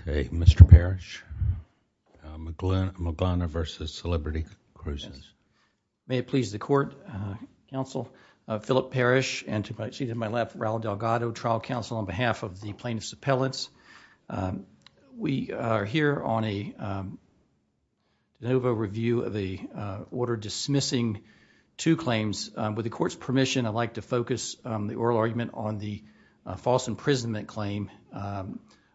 Okay, Mr. Parrish, Maglana v. Celebrity Cruises. May it please the Court, Counsel Philip Parrish and to my left, Raul Delgado, trial counsel on behalf of the plaintiff's appellants. We are here on a de novo review of the order dismissing two claims. With the Court's permission, I'd like to focus the oral argument on the false imprisonment claim.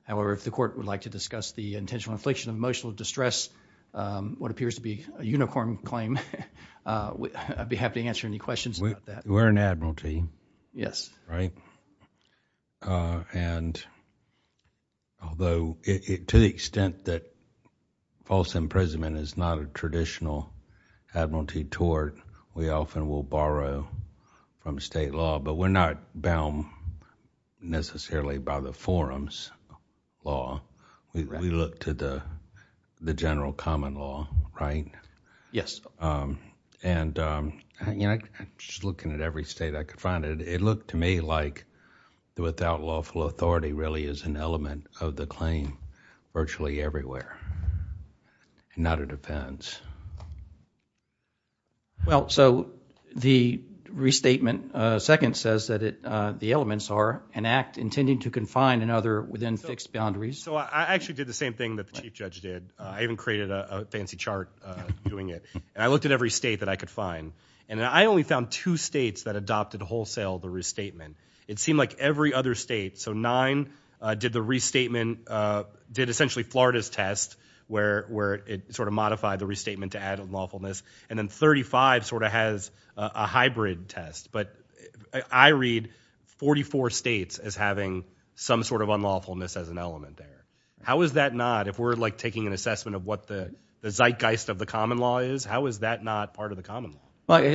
However, if the Court would like to discuss the intentional infliction of emotional distress, what appears to be a unicorn claim, I'd be happy to answer any questions about that. We're an admiralty, right? And although to the extent that false imprisonment is not a traditional admiralty tort, we often will borrow from state law, but we're not bound necessarily by the forum's law. We look to the general common law, right? Yes. And, you know, just looking at every state I could find, it looked to me like the without lawful authority really is an element of the claim virtually everywhere, not a defense. Well, so the restatement second says that the elements are an act intending to confine another within fixed boundaries. So I actually did the same thing that the Chief Judge did. I even created a fancy chart doing it. And I looked at every state that I could find, and I only found two states that adopted wholesale the restatement. It seemed like every other state, so nine did the restatement, did essentially Florida's test, where it sort of modified the restatement to add unlawfulness. And then 35 sort of has a hybrid test. But I read 44 states as having some sort of unlawfulness as an element there. How is that not, if we're like taking an assessment of what the zeitgeist of the common law is, how is that not part of the common law?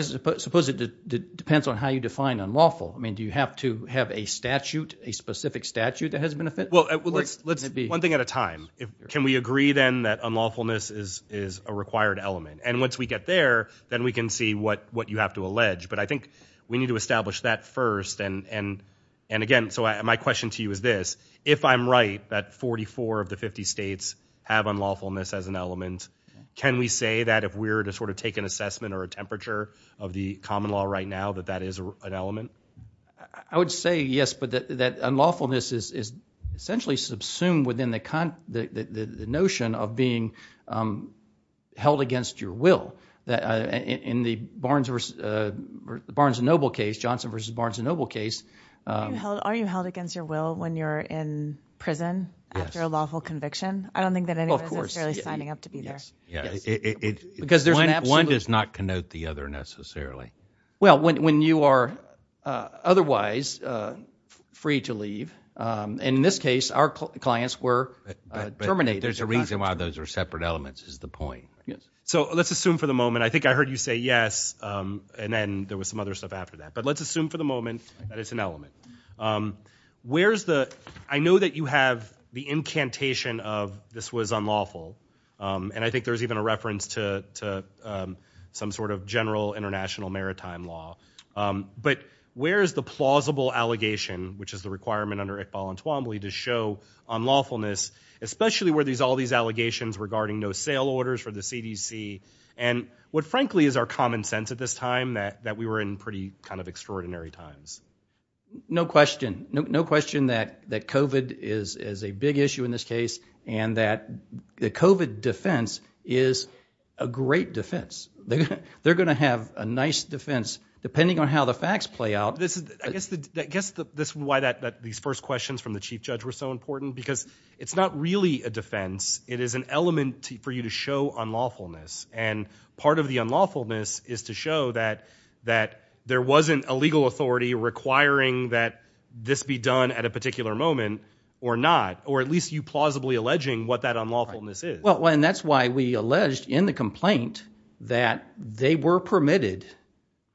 Suppose it depends on how you define unlawful. I mean, do you have to have a statute, a specific statute that has been offended? Well, let's one thing at a time. Can we agree then that unlawfulness is a required element? And once we get there, then we can see what you have to allege. But I think we need to establish that first. And again, so my question to you is this. If I'm right that 44 of the 50 states have unlawfulness as an element, can we say that if we're to sort of take an assessment or a temperature of the common law right now that that is an element? I would say yes, but that unlawfulness is essentially subsumed within the notion of being held against your will. In the Barnes & Noble case, Johnson v. Barnes & Noble case. Are you held against your will when you're in prison after a lawful conviction? I don't think that anyone is necessarily signing up to be there. One does not connote the other necessarily. Well, when you are otherwise free to leave, and in this case, our clients were terminated. There's a reason why those are separate elements is the point. So let's assume for the moment, I think I heard you say yes, and then there was some other stuff after that. But let's assume for the moment that it's an element. Where's the, I know that you have the incantation of this was unlawful. And I think there's even a reference to some sort of general international maritime law. But where's the plausible allegation, which is the requirement under Iqbal and Twombly to show unlawfulness, especially where there's all these allegations regarding no sale orders for the CDC, and what frankly is our common sense at this time that we were in pretty kind of extraordinary times? No question. No question that COVID is a big issue in this case, and that the COVID defense is a great defense. They're going to have a nice defense, depending on how the facts play out. I guess that's why these first questions from the chief judge were so important, because it's not really a defense. It is an element for you to show unlawfulness. And part of the unlawfulness is to show that there wasn't a legal authority requiring that this be done at a particular moment or not, or at least you plausibly alleging what that unlawfulness is. Well, and that's why we alleged in the complaint that they were permitted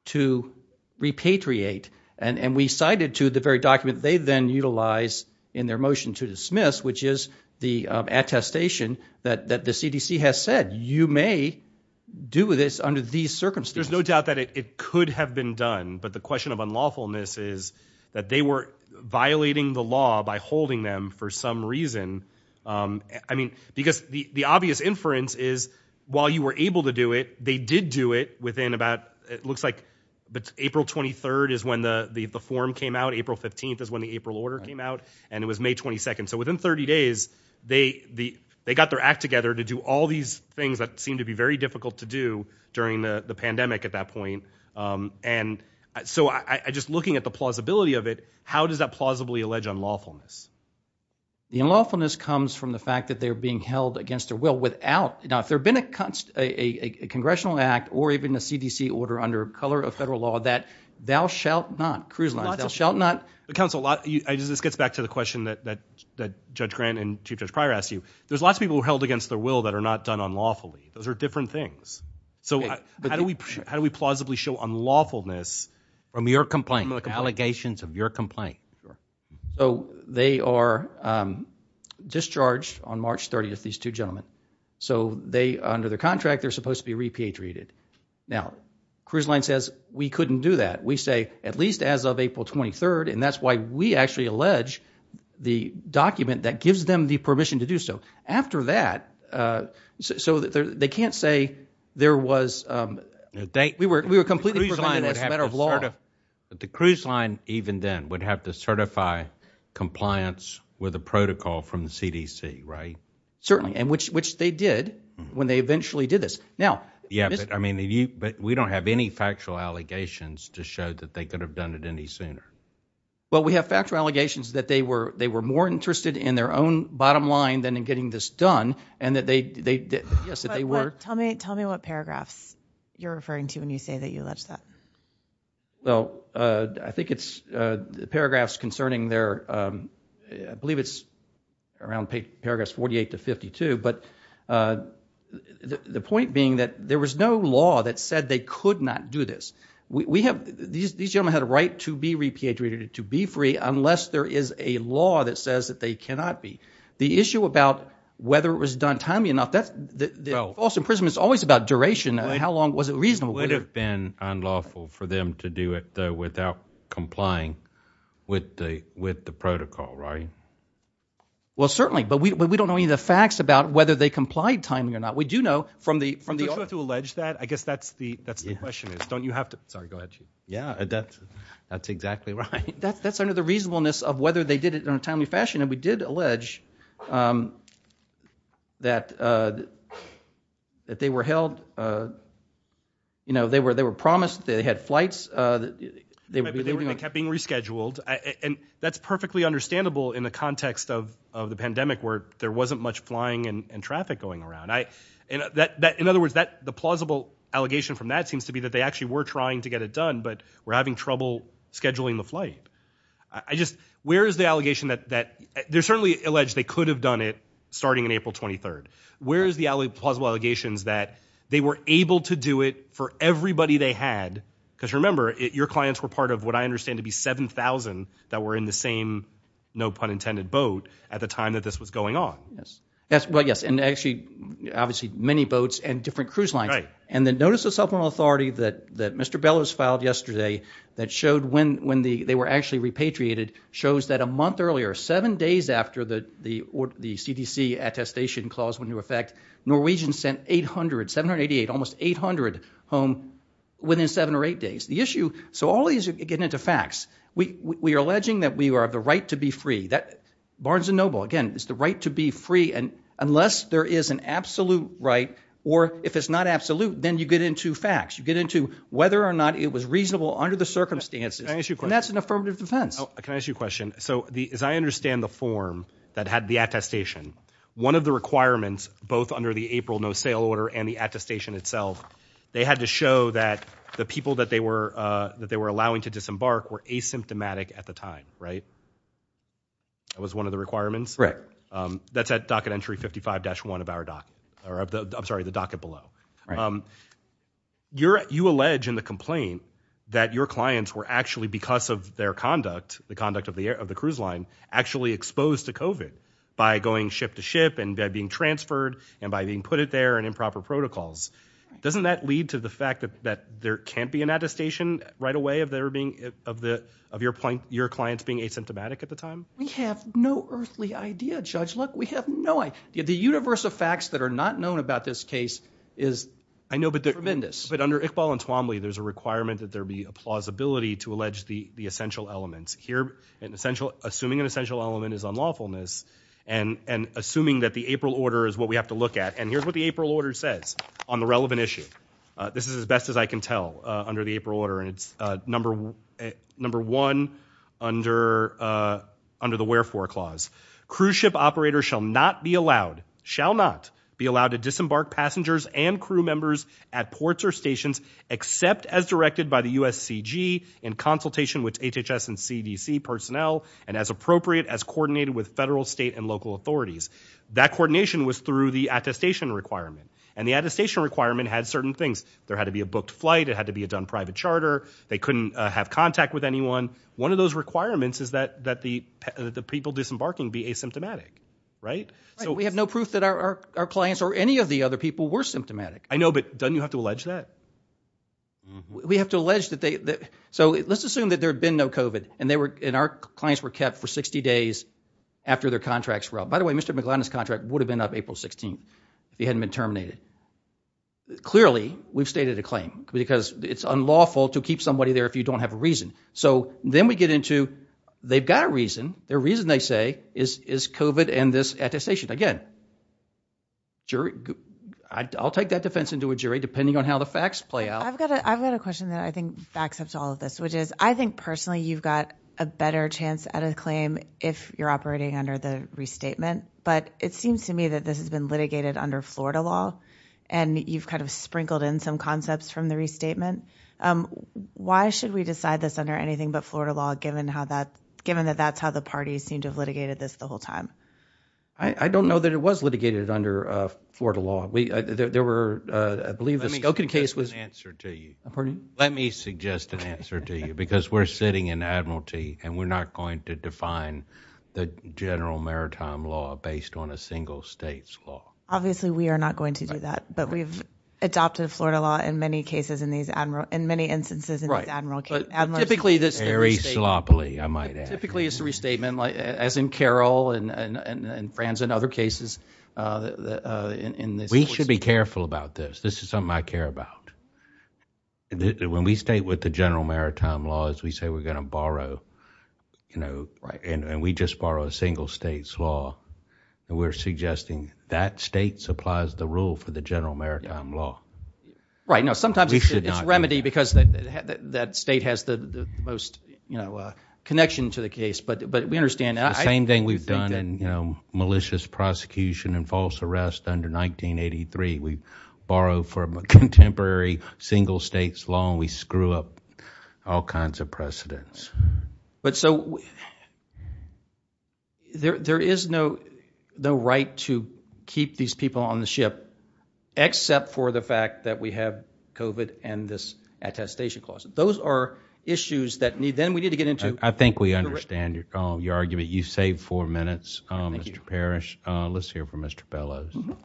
to repatriate. And we cited to the very document they then utilize in their motion to dismiss, which is the attestation that the CDC has said, you may do this under these circumstances. There's no doubt that it could have been done. But the question of unlawfulness is that they were violating the law by holding them for some reason. I mean, because the obvious inference is, while you were able to do it, they did do it within about, it looks like April 23rd is when the form came out, April 15th is when the April order came out, and it was May 22nd. So within 30 days, they got their act together to do all these things that seemed to be very difficult to do during the pandemic at that point. And so I just looking at the plausibility of it, how does that plausibly allege unlawfulness? The unlawfulness comes from the fact that they're being held against their will without, now if there had been a congressional act or even a CDC order under color of federal law that thou shalt not, cruise lines, thou shalt not. But counsel, this gets back to the question that Judge Grant and Chief Judge Pryor asked you. There's lots of people who are held against their will that are not done unlawfully. Those are different things. So how do we, how do we plausibly show unlawfulness from your complaint, from the allegations of your complaint? So they are discharged on March 30th, these two gentlemen. So they, under their contract, they're supposed to be repatriated. Now cruise line says we couldn't do that. We say at least as of April 23rd, and that's why we actually allege the document that gives them the permission to do so. After that, so they can't say there was, we were completely prevented as a matter of law. The cruise line even then would have to certify compliance with a protocol from the CDC, right? Certainly, and which they did when they eventually did this. Yeah, but I mean, we don't have any factual allegations to show that they could have done it any sooner. Well we have factual allegations that they were more interested in their own bottom line than in getting this done, and that they, yes, that they were. Tell me what paragraphs you're referring to when you say that you allege that. Well, I think it's the paragraphs concerning their, I believe it's around paragraphs 48 to 52, but the point being that there was no law that said they could not do this. We have, these gentlemen had a right to be repatriated, to be free, unless there is a law that says that they cannot be. The issue about whether it was done timely enough, that's, false imprisonment is always about duration, how long was it reasonable? It would have been unlawful for them to do it without complying with the protocol, right? Well, certainly, but we don't know any of the facts about whether they complied timely or not. We do know from the- Do we have to allege that? I guess that's the question is, don't you have to, sorry, go ahead. Yeah, that's exactly right. That's under the reasonableness of whether they did it in a timely fashion, and we did allege that they were held, you know, they were promised that they had flights, that they would be leaving- They kept being rescheduled, and that's perfectly understandable in the context of the pandemic where there wasn't much flying and traffic going around. In other words, the plausible allegation from that seems to be that they actually were trying to get it done, but were having trouble scheduling the flight. I just, where is the allegation that, they're certainly alleged they could have done it starting on April 23rd, where is the plausible allegations that they were able to do it for everybody they had, because remember, your clients were part of what I understand to be 7,000 that were in the same, no pun intended, boat at the time that this was going on. Yes, well, yes, and actually, obviously, many boats and different cruise lines, and the notice of supplemental authority that Mr. Bellows filed yesterday that showed when they were actually repatriated shows that a month earlier, seven days after the CDC attestation clause went into effect, Norwegians sent 800, 788, almost 800 home within seven or eight days. The issue, so all these are getting into facts. We are alleging that we are the right to be free, that Barnes & Noble, again, is the right to be free, and unless there is an absolute right, or if it's not absolute, then you get into facts. You get into whether or not it was reasonable under the circumstances, and that's an affirmative defense. Can I ask you a question? So, as I understand the form that had the attestation, one of the requirements, both under the April no-sale order and the attestation itself, they had to show that the people that they were allowing to disembark were asymptomatic at the time, right? That was one of the requirements? Right. That's at docket entry 55-1 of our docket, or I'm sorry, the docket below. Right. You're, you allege in the complaint that your clients were actually, because of their conduct, the conduct of the air, of the cruise line, actually exposed to COVID by going ship to ship and by being transferred and by being put it there and improper protocols. Doesn't that lead to the fact that there can't be an attestation right away of their being, of the, of your point, your clients being asymptomatic at the time? We have no earthly idea, Judge. Look, we have no idea. The universe of facts that are not known about this case is tremendous. I know, but under Iqbal and Twombly, there's a requirement that there be a plausibility to allege the essential elements. Here, assuming an essential element is unlawfulness and assuming that the April order is what we have to look at, and here's what the April order says on the relevant issue. This is as best as I can tell under the April order, and it's number one under the wherefore clause. Cruise ship operators shall not be allowed, shall not be allowed to disembark passengers and crew members at ports or stations except as directed by the USCG in consultation with HHS and CDC personnel and as appropriate as coordinated with federal, state, and local authorities. That coordination was through the attestation requirement, and the attestation requirement had certain things. There had to be a booked flight. It had to be a done private charter. They couldn't have contact with anyone. One of those requirements is that the people disembarking be asymptomatic, right? We have no proof that our clients or any of the other people were symptomatic. I know, but don't you have to allege that? We have to allege that they... So let's assume that there had been no COVID, and our clients were kept for 60 days after their contracts were up. By the way, Mr. McGlennan's contract would have been up April 16th if he hadn't been terminated. Clearly, we've stated a claim because it's unlawful to keep somebody there if you don't have a reason. So then we get into, they've got a reason, their reason, they say, is COVID and this attestation. Again, I'll take that defense into a jury depending on how the facts play out. I've got a question that I think backs up to all of this, which is, I think personally you've got a better chance at a claim if you're operating under the restatement. But it seems to me that this has been litigated under Florida law, and you've kind of sprinkled in some concepts from the restatement. Why should we decide this under anything but Florida law, given that that's how the parties seem to have litigated this the whole time? I don't know that it was litigated under Florida law. There were, I believe the Skokie case was... Let me suggest an answer to you, because we're sitting in Admiralty, and we're not going to define the general maritime law based on a single state's law. Obviously we are not going to do that, but we've adopted Florida law in many cases in many instances in these admiral cases. Very sloppily, I might add. Typically it's a restatement, as in Carroll and Frans and other cases in this. We should be careful about this. This is something I care about. When we state with the general maritime laws, we say we're going to borrow, and we just borrow a single state's law, and we're suggesting that state supplies the rule for the general maritime law. Right. Sometimes it's a remedy because that state has the most connection to the case, but we understand that. It's the same thing we've done in malicious prosecution and false arrest under 1983. We borrow from a contemporary single state's law, and we screw up all kinds of precedents. There is no right to keep these people on the ship except for the fact that we have COVID and this attestation clause. Those are issues that then we need to get into. I think we understand your argument. You saved four minutes, Mr. Parrish. Let's hear from Mr. Bellows. Good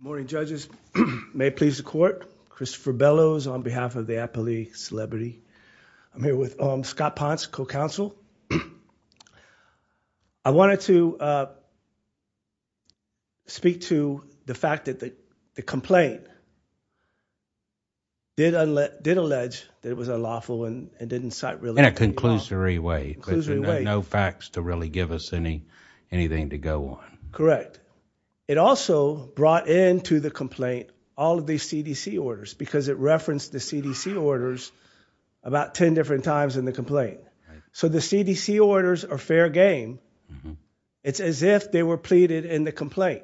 morning, judges. May it please the court, Christopher Bellows on behalf of the Appalachian Celebrity. I'm here with Scott Ponce, co-counsel. I wanted to speak to the fact that the complaint did allege that it was unlawful and didn't cite real evidence. In a conclusory way. Conclusory way. There's no facts to really give us anything to go on. Correct. It also brought into the complaint all of these CDC orders because it referenced the CDC orders about 10 different times in the complaint. So the CDC orders are fair game. It's as if they were pleaded in the complaint.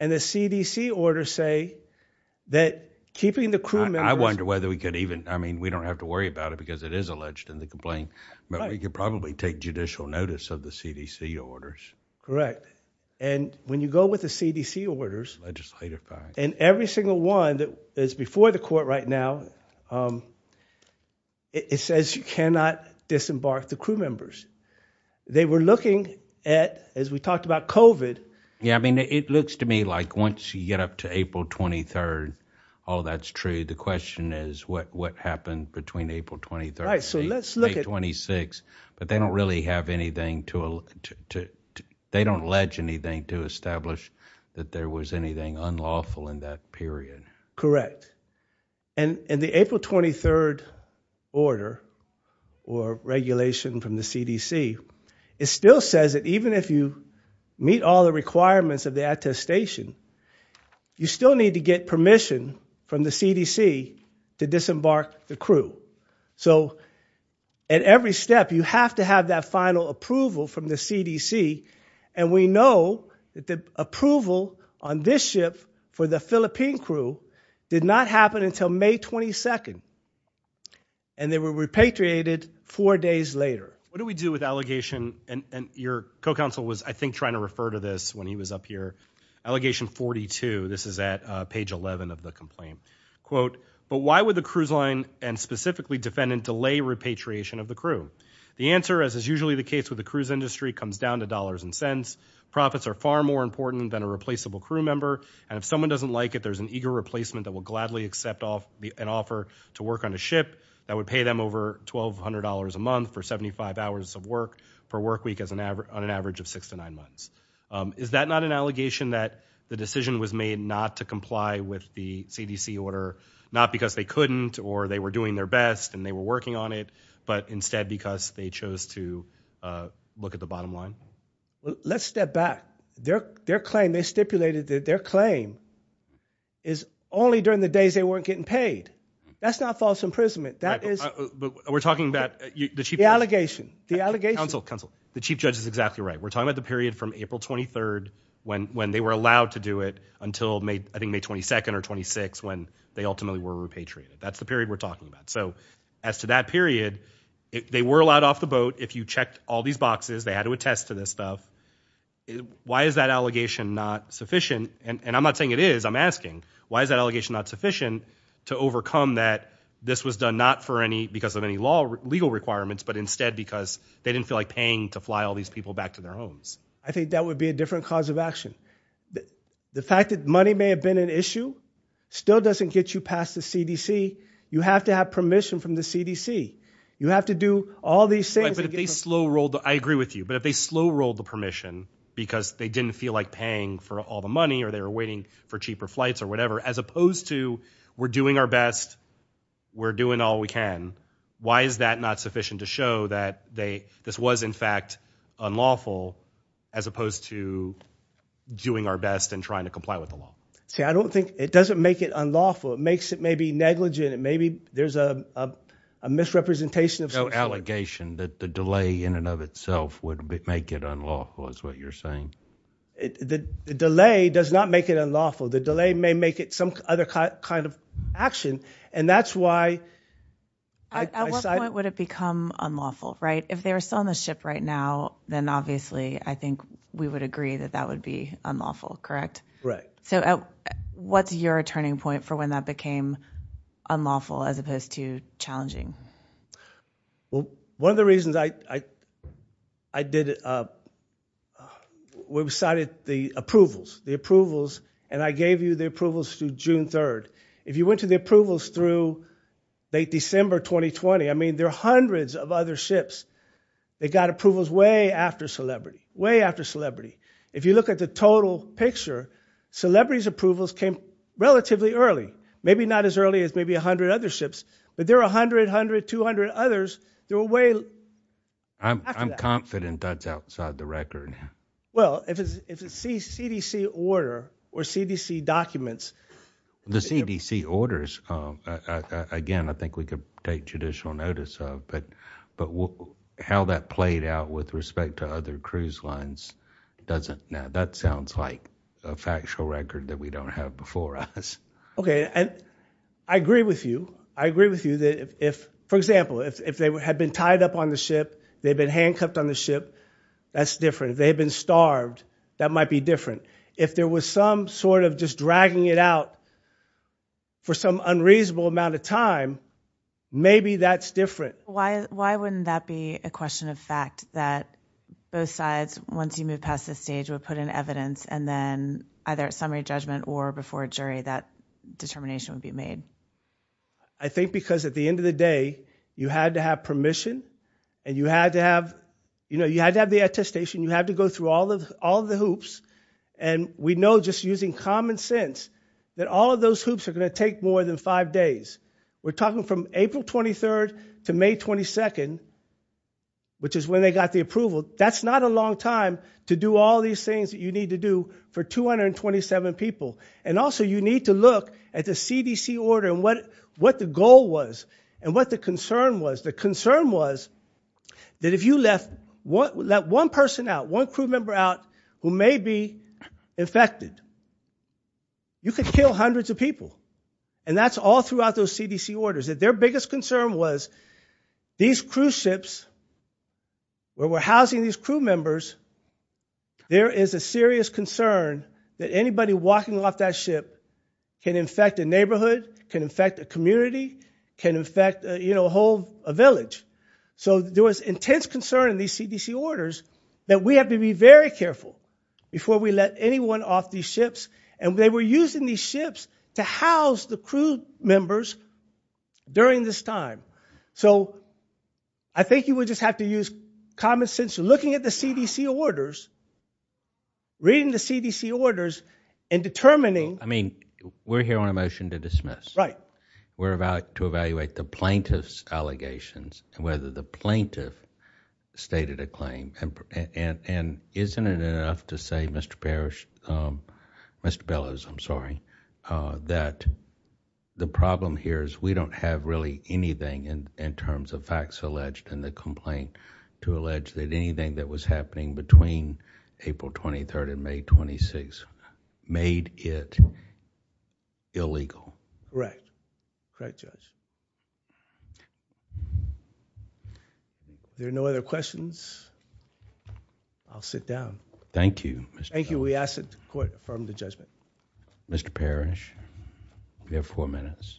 And the CDC orders say that keeping the crew members- I wonder whether we could even, I mean, we don't have to worry about it because it is alleged in the complaint, but we could probably take judicial notice of the CDC orders. Correct. And when you go with the CDC orders and every single one that is before the court right now, it says you cannot disembark the crew members. They were looking at, as we talked about COVID. Yeah. I mean, it looks to me like once you get up to April 23rd, all that's true. The question is what, what happened between April 23rd and April 26th, but they don't really have anything to, they don't allege anything to establish that there was anything unlawful in that period. Correct. And the April 23rd order or regulation from the CDC, it still says that even if you meet all the requirements of the attestation, you still need to get permission from the CDC to disembark the crew. So at every step, you have to have that final approval from the CDC. And we know that the approval on this ship for the Philippine crew did not happen until May 22nd and they were repatriated four days later. What do we do with allegation? And your co-counsel was, I think, trying to refer to this when he was up here. Allegation 42. This is at page 11 of the complaint quote, but why would the cruise line? And specifically defendant delay repatriation of the crew. The answer as is usually the case with the cruise industry comes down to dollars and cents profits are far more important than a replaceable crew member. And if someone doesn't like it, there's an eager replacement that will gladly accept off an offer to work on a ship that would pay them over $1,200 a month for 75 hours of work for work week as an average on an average of six to nine months. Is that not an allegation that the decision was made not to comply with the CDC order? Not because they couldn't or they were doing their best and they were working on it, but instead because they chose to look at the bottom line. Let's step back. Their claim, they stipulated that their claim is only during the days they weren't getting paid. That's not false imprisonment. That is- We're talking about the chief- The allegation. The allegation. Counsel, counsel. The chief judge is exactly right. We're talking about the period from April 23rd when they were allowed to do it until I think May 22nd or 26th when they ultimately were repatriated. That's the period we're talking about. So as to that period, they were allowed off the boat. If you checked all these boxes, they had to attest to this stuff. Why is that allegation not sufficient? And I'm not saying it is, I'm asking, why is that allegation not sufficient to overcome that this was done not for any, because of any law, legal requirements, but instead because they didn't feel like paying to fly all these people back to their homes? I think that would be a different cause of action. The fact that money may have been an issue still doesn't get you past the CDC. You have to have permission from the CDC. You have to do all these things- But if they slow rolled, I agree with you, but if they slow rolled the permission because they didn't feel like paying for all the money or they were waiting for cheaper flights or whatever, as opposed to we're doing our best, we're doing all we can, why is that not sufficient to show that they, this was in fact unlawful as opposed to doing our best and trying to comply with the law? See, I don't think, it doesn't make it unlawful. It makes it maybe negligent, it maybe, there's a misrepresentation of- No allegation that the delay in and of itself would make it unlawful, is what you're saying. The delay does not make it unlawful. The delay may make it some other kind of action. And that's why- At what point would it become unlawful, right? If they were still on the ship right now, then obviously I think we would agree that that would be unlawful, correct? Right. So what's your turning point for when that became unlawful as opposed to challenging? Well, one of the reasons I did, we decided the approvals, the approvals, and I gave you the approvals through June 3rd. If you went to the approvals through late December 2020, I mean, there are hundreds of other ships that got approvals way after Celebrity, way after Celebrity. If you look at the total picture, Celebrity's approvals came relatively early, maybe not as early as maybe 100 other ships, but there are 100, 100, 200 others that were way after that. I'm confident that's outside the record. Well, if it's a CDC order or CDC documents- The CDC orders, again, I think we could take judicial notice of, but how that played out with respect to other cruise lines doesn't. Now, that sounds like a factual record that we don't have before us. Okay. I agree with you. I agree with you that if, for example, if they had been tied up on the ship, they'd been handcuffed on the ship, that's different. If they had been starved, that might be different. If there was some sort of just dragging it out for some unreasonable amount of time, maybe that's different. Why wouldn't that be a question of fact that both sides, once you move past this stage, would put in evidence and then either at summary judgment or before a jury, that determination would be made? I think because at the end of the day, you had to have permission and you had to have the attestation. You had to go through all of the hoops. And we know just using common sense, that all of those hoops are gonna take more than five days. We're talking from April 23rd to May 22nd, which is when they got the approval. That's not a long time to do all these things that you need to do for 227 people. And also, you need to look at the CDC order and what the goal was and what the concern was. The concern was that if you let one person out, one crew member out who may be infected, you could kill hundreds of people. And that's all throughout those CDC orders. That their biggest concern was these cruise ships where we're housing these crew members, there is a serious concern that anybody walking off that ship can infect a neighborhood, can infect a community, can infect a whole village. So there was intense concern in these CDC orders that we have to be very careful before we let anyone off these ships. And they were using these ships to house the crew members during this time. So I think you would just have to use common sense, looking at the CDC orders, reading the CDC orders, and determining- I mean, we're here on a motion to dismiss. Right. We're about to evaluate the plaintiff's allegations and whether the plaintiff stated a claim. And isn't it enough to say, Mr. Perish, Mr. Bellows, I'm sorry, that the problem here is we don't have really anything in terms of facts alleged in the complaint to allege that anything that was happening between April 23rd and May 26th made it illegal. Correct. Correct, Judge. If there are no other questions, I'll sit down. Thank you, Mr. Perish. Thank you. We ask that the court affirm the judgment. Mr. Perish, you have four minutes.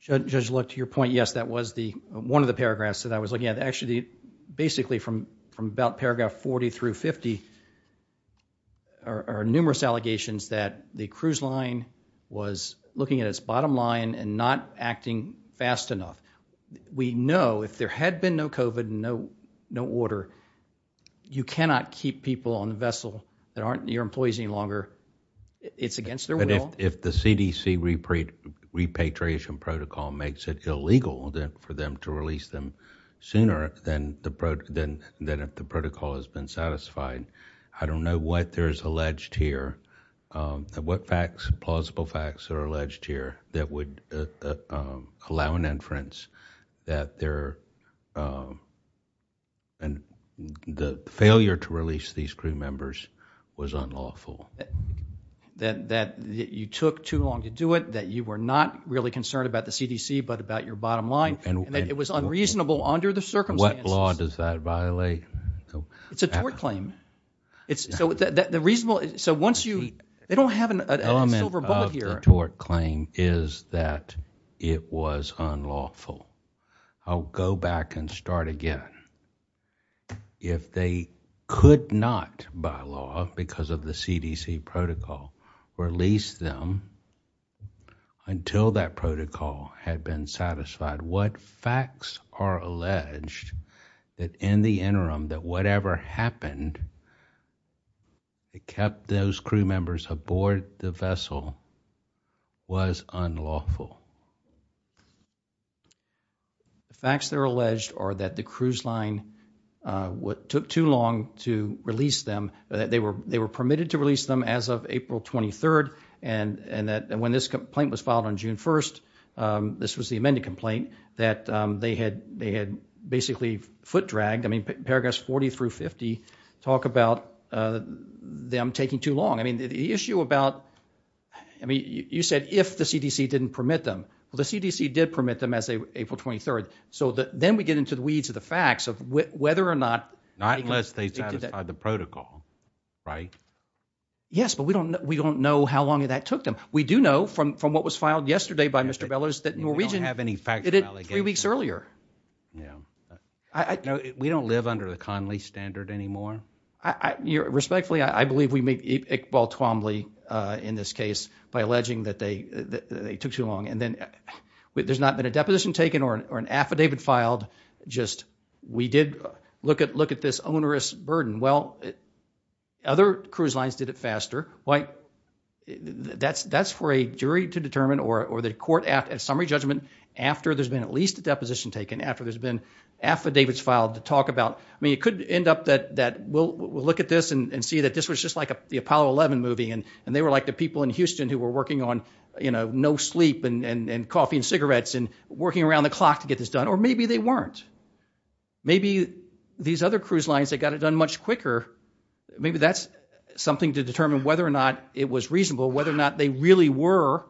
Judge Luck, to your point, yes, that was one of the paragraphs that I was looking at. Paragraph 40 through 50 are numerous allegations that the cruise line was looking at its bottom line and not acting fast enough. We know if there had been no COVID, no order, you cannot keep people on the vessel that aren't your employees any longer. It's against their will. But if the CDC repatriation protocol makes it illegal for them to release them sooner than if the protocol has been satisfied, I don't know what there's alleged here, what facts, plausible facts are alleged here that would allow an inference that the failure to release these crew members was unlawful. You took too long to do it, that you were not really concerned about the CDC but about your bottom line and that it was unreasonable under the circumstances. What law does that violate? It's a tort claim. So once you, they don't have a silver bullet here. The element of the tort claim is that it was unlawful. I'll go back and start again. If they could not, by law, because of the CDC protocol, release them until that protocol had been satisfied, what facts are alleged that in the interim that whatever happened that kept those crew members aboard the vessel was unlawful? Facts that are alleged are that the cruise line took too long to release them, that they were permitted to release them as of April 23rd and that when this complaint was filed on June 1st, this was the amended complaint, that they had basically foot dragged, I mean, paragraphs 40 through 50 talk about them taking too long. I mean, the issue about, I mean, you said if the CDC didn't permit them. Well, the CDC did permit them as of April 23rd. So then we get into the weeds of the facts of whether or not... Not unless they satisfied the protocol, right? Yes, but we don't know how long that took them. We do know from what was filed yesterday by Mr. Bellows that Norwegian... We don't have any facts about it. ...did it three weeks earlier. Yeah. No, we don't live under the Conley standard anymore. Respectfully, I believe we make Iqbal Twombly in this case by alleging that they took too long and then there's not been a deposition taken or an affidavit filed. Just we did look at this onerous burden. Well, other cruise lines did it faster. That's for a jury to determine or the court at a summary judgment after there's been at least a deposition taken, after there's been affidavits filed to talk about. I mean, it could end up that we'll look at this and see that this was just like the Apollo 11 movie and they were like the people in Houston who were working on, you know, no sleep and coffee and cigarettes and working around the clock to get this done. Or maybe they weren't. Maybe these other cruise lines that got it done much quicker, maybe that's something to determine whether or not it was reasonable, whether or not they really were.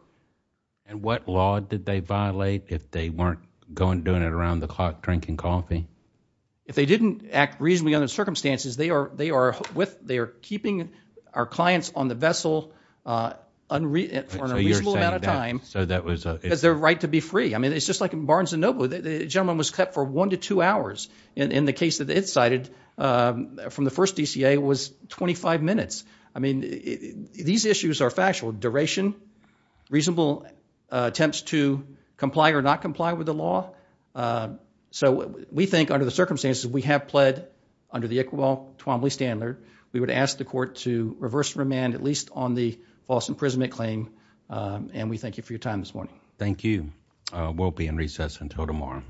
And what law did they violate if they weren't going doing it around the clock drinking coffee? If they didn't act reasonably under the circumstances, they are with, they are keeping our clients on the vessel for a reasonable amount of time because their right to be free. I mean, it's just like in Barnes and Noble, the gentleman was kept for one to two hours in the case that it cited from the first DCA was 25 minutes. I mean, these issues are factual duration, reasonable attempts to comply or not comply with the law. So we think under the circumstances we have pled under the Equivalent Twombly standard, we would ask the court to reverse remand, at least on the false imprisonment claim. And we thank you for your time this morning. Thank you. We'll be in recess until tomorrow.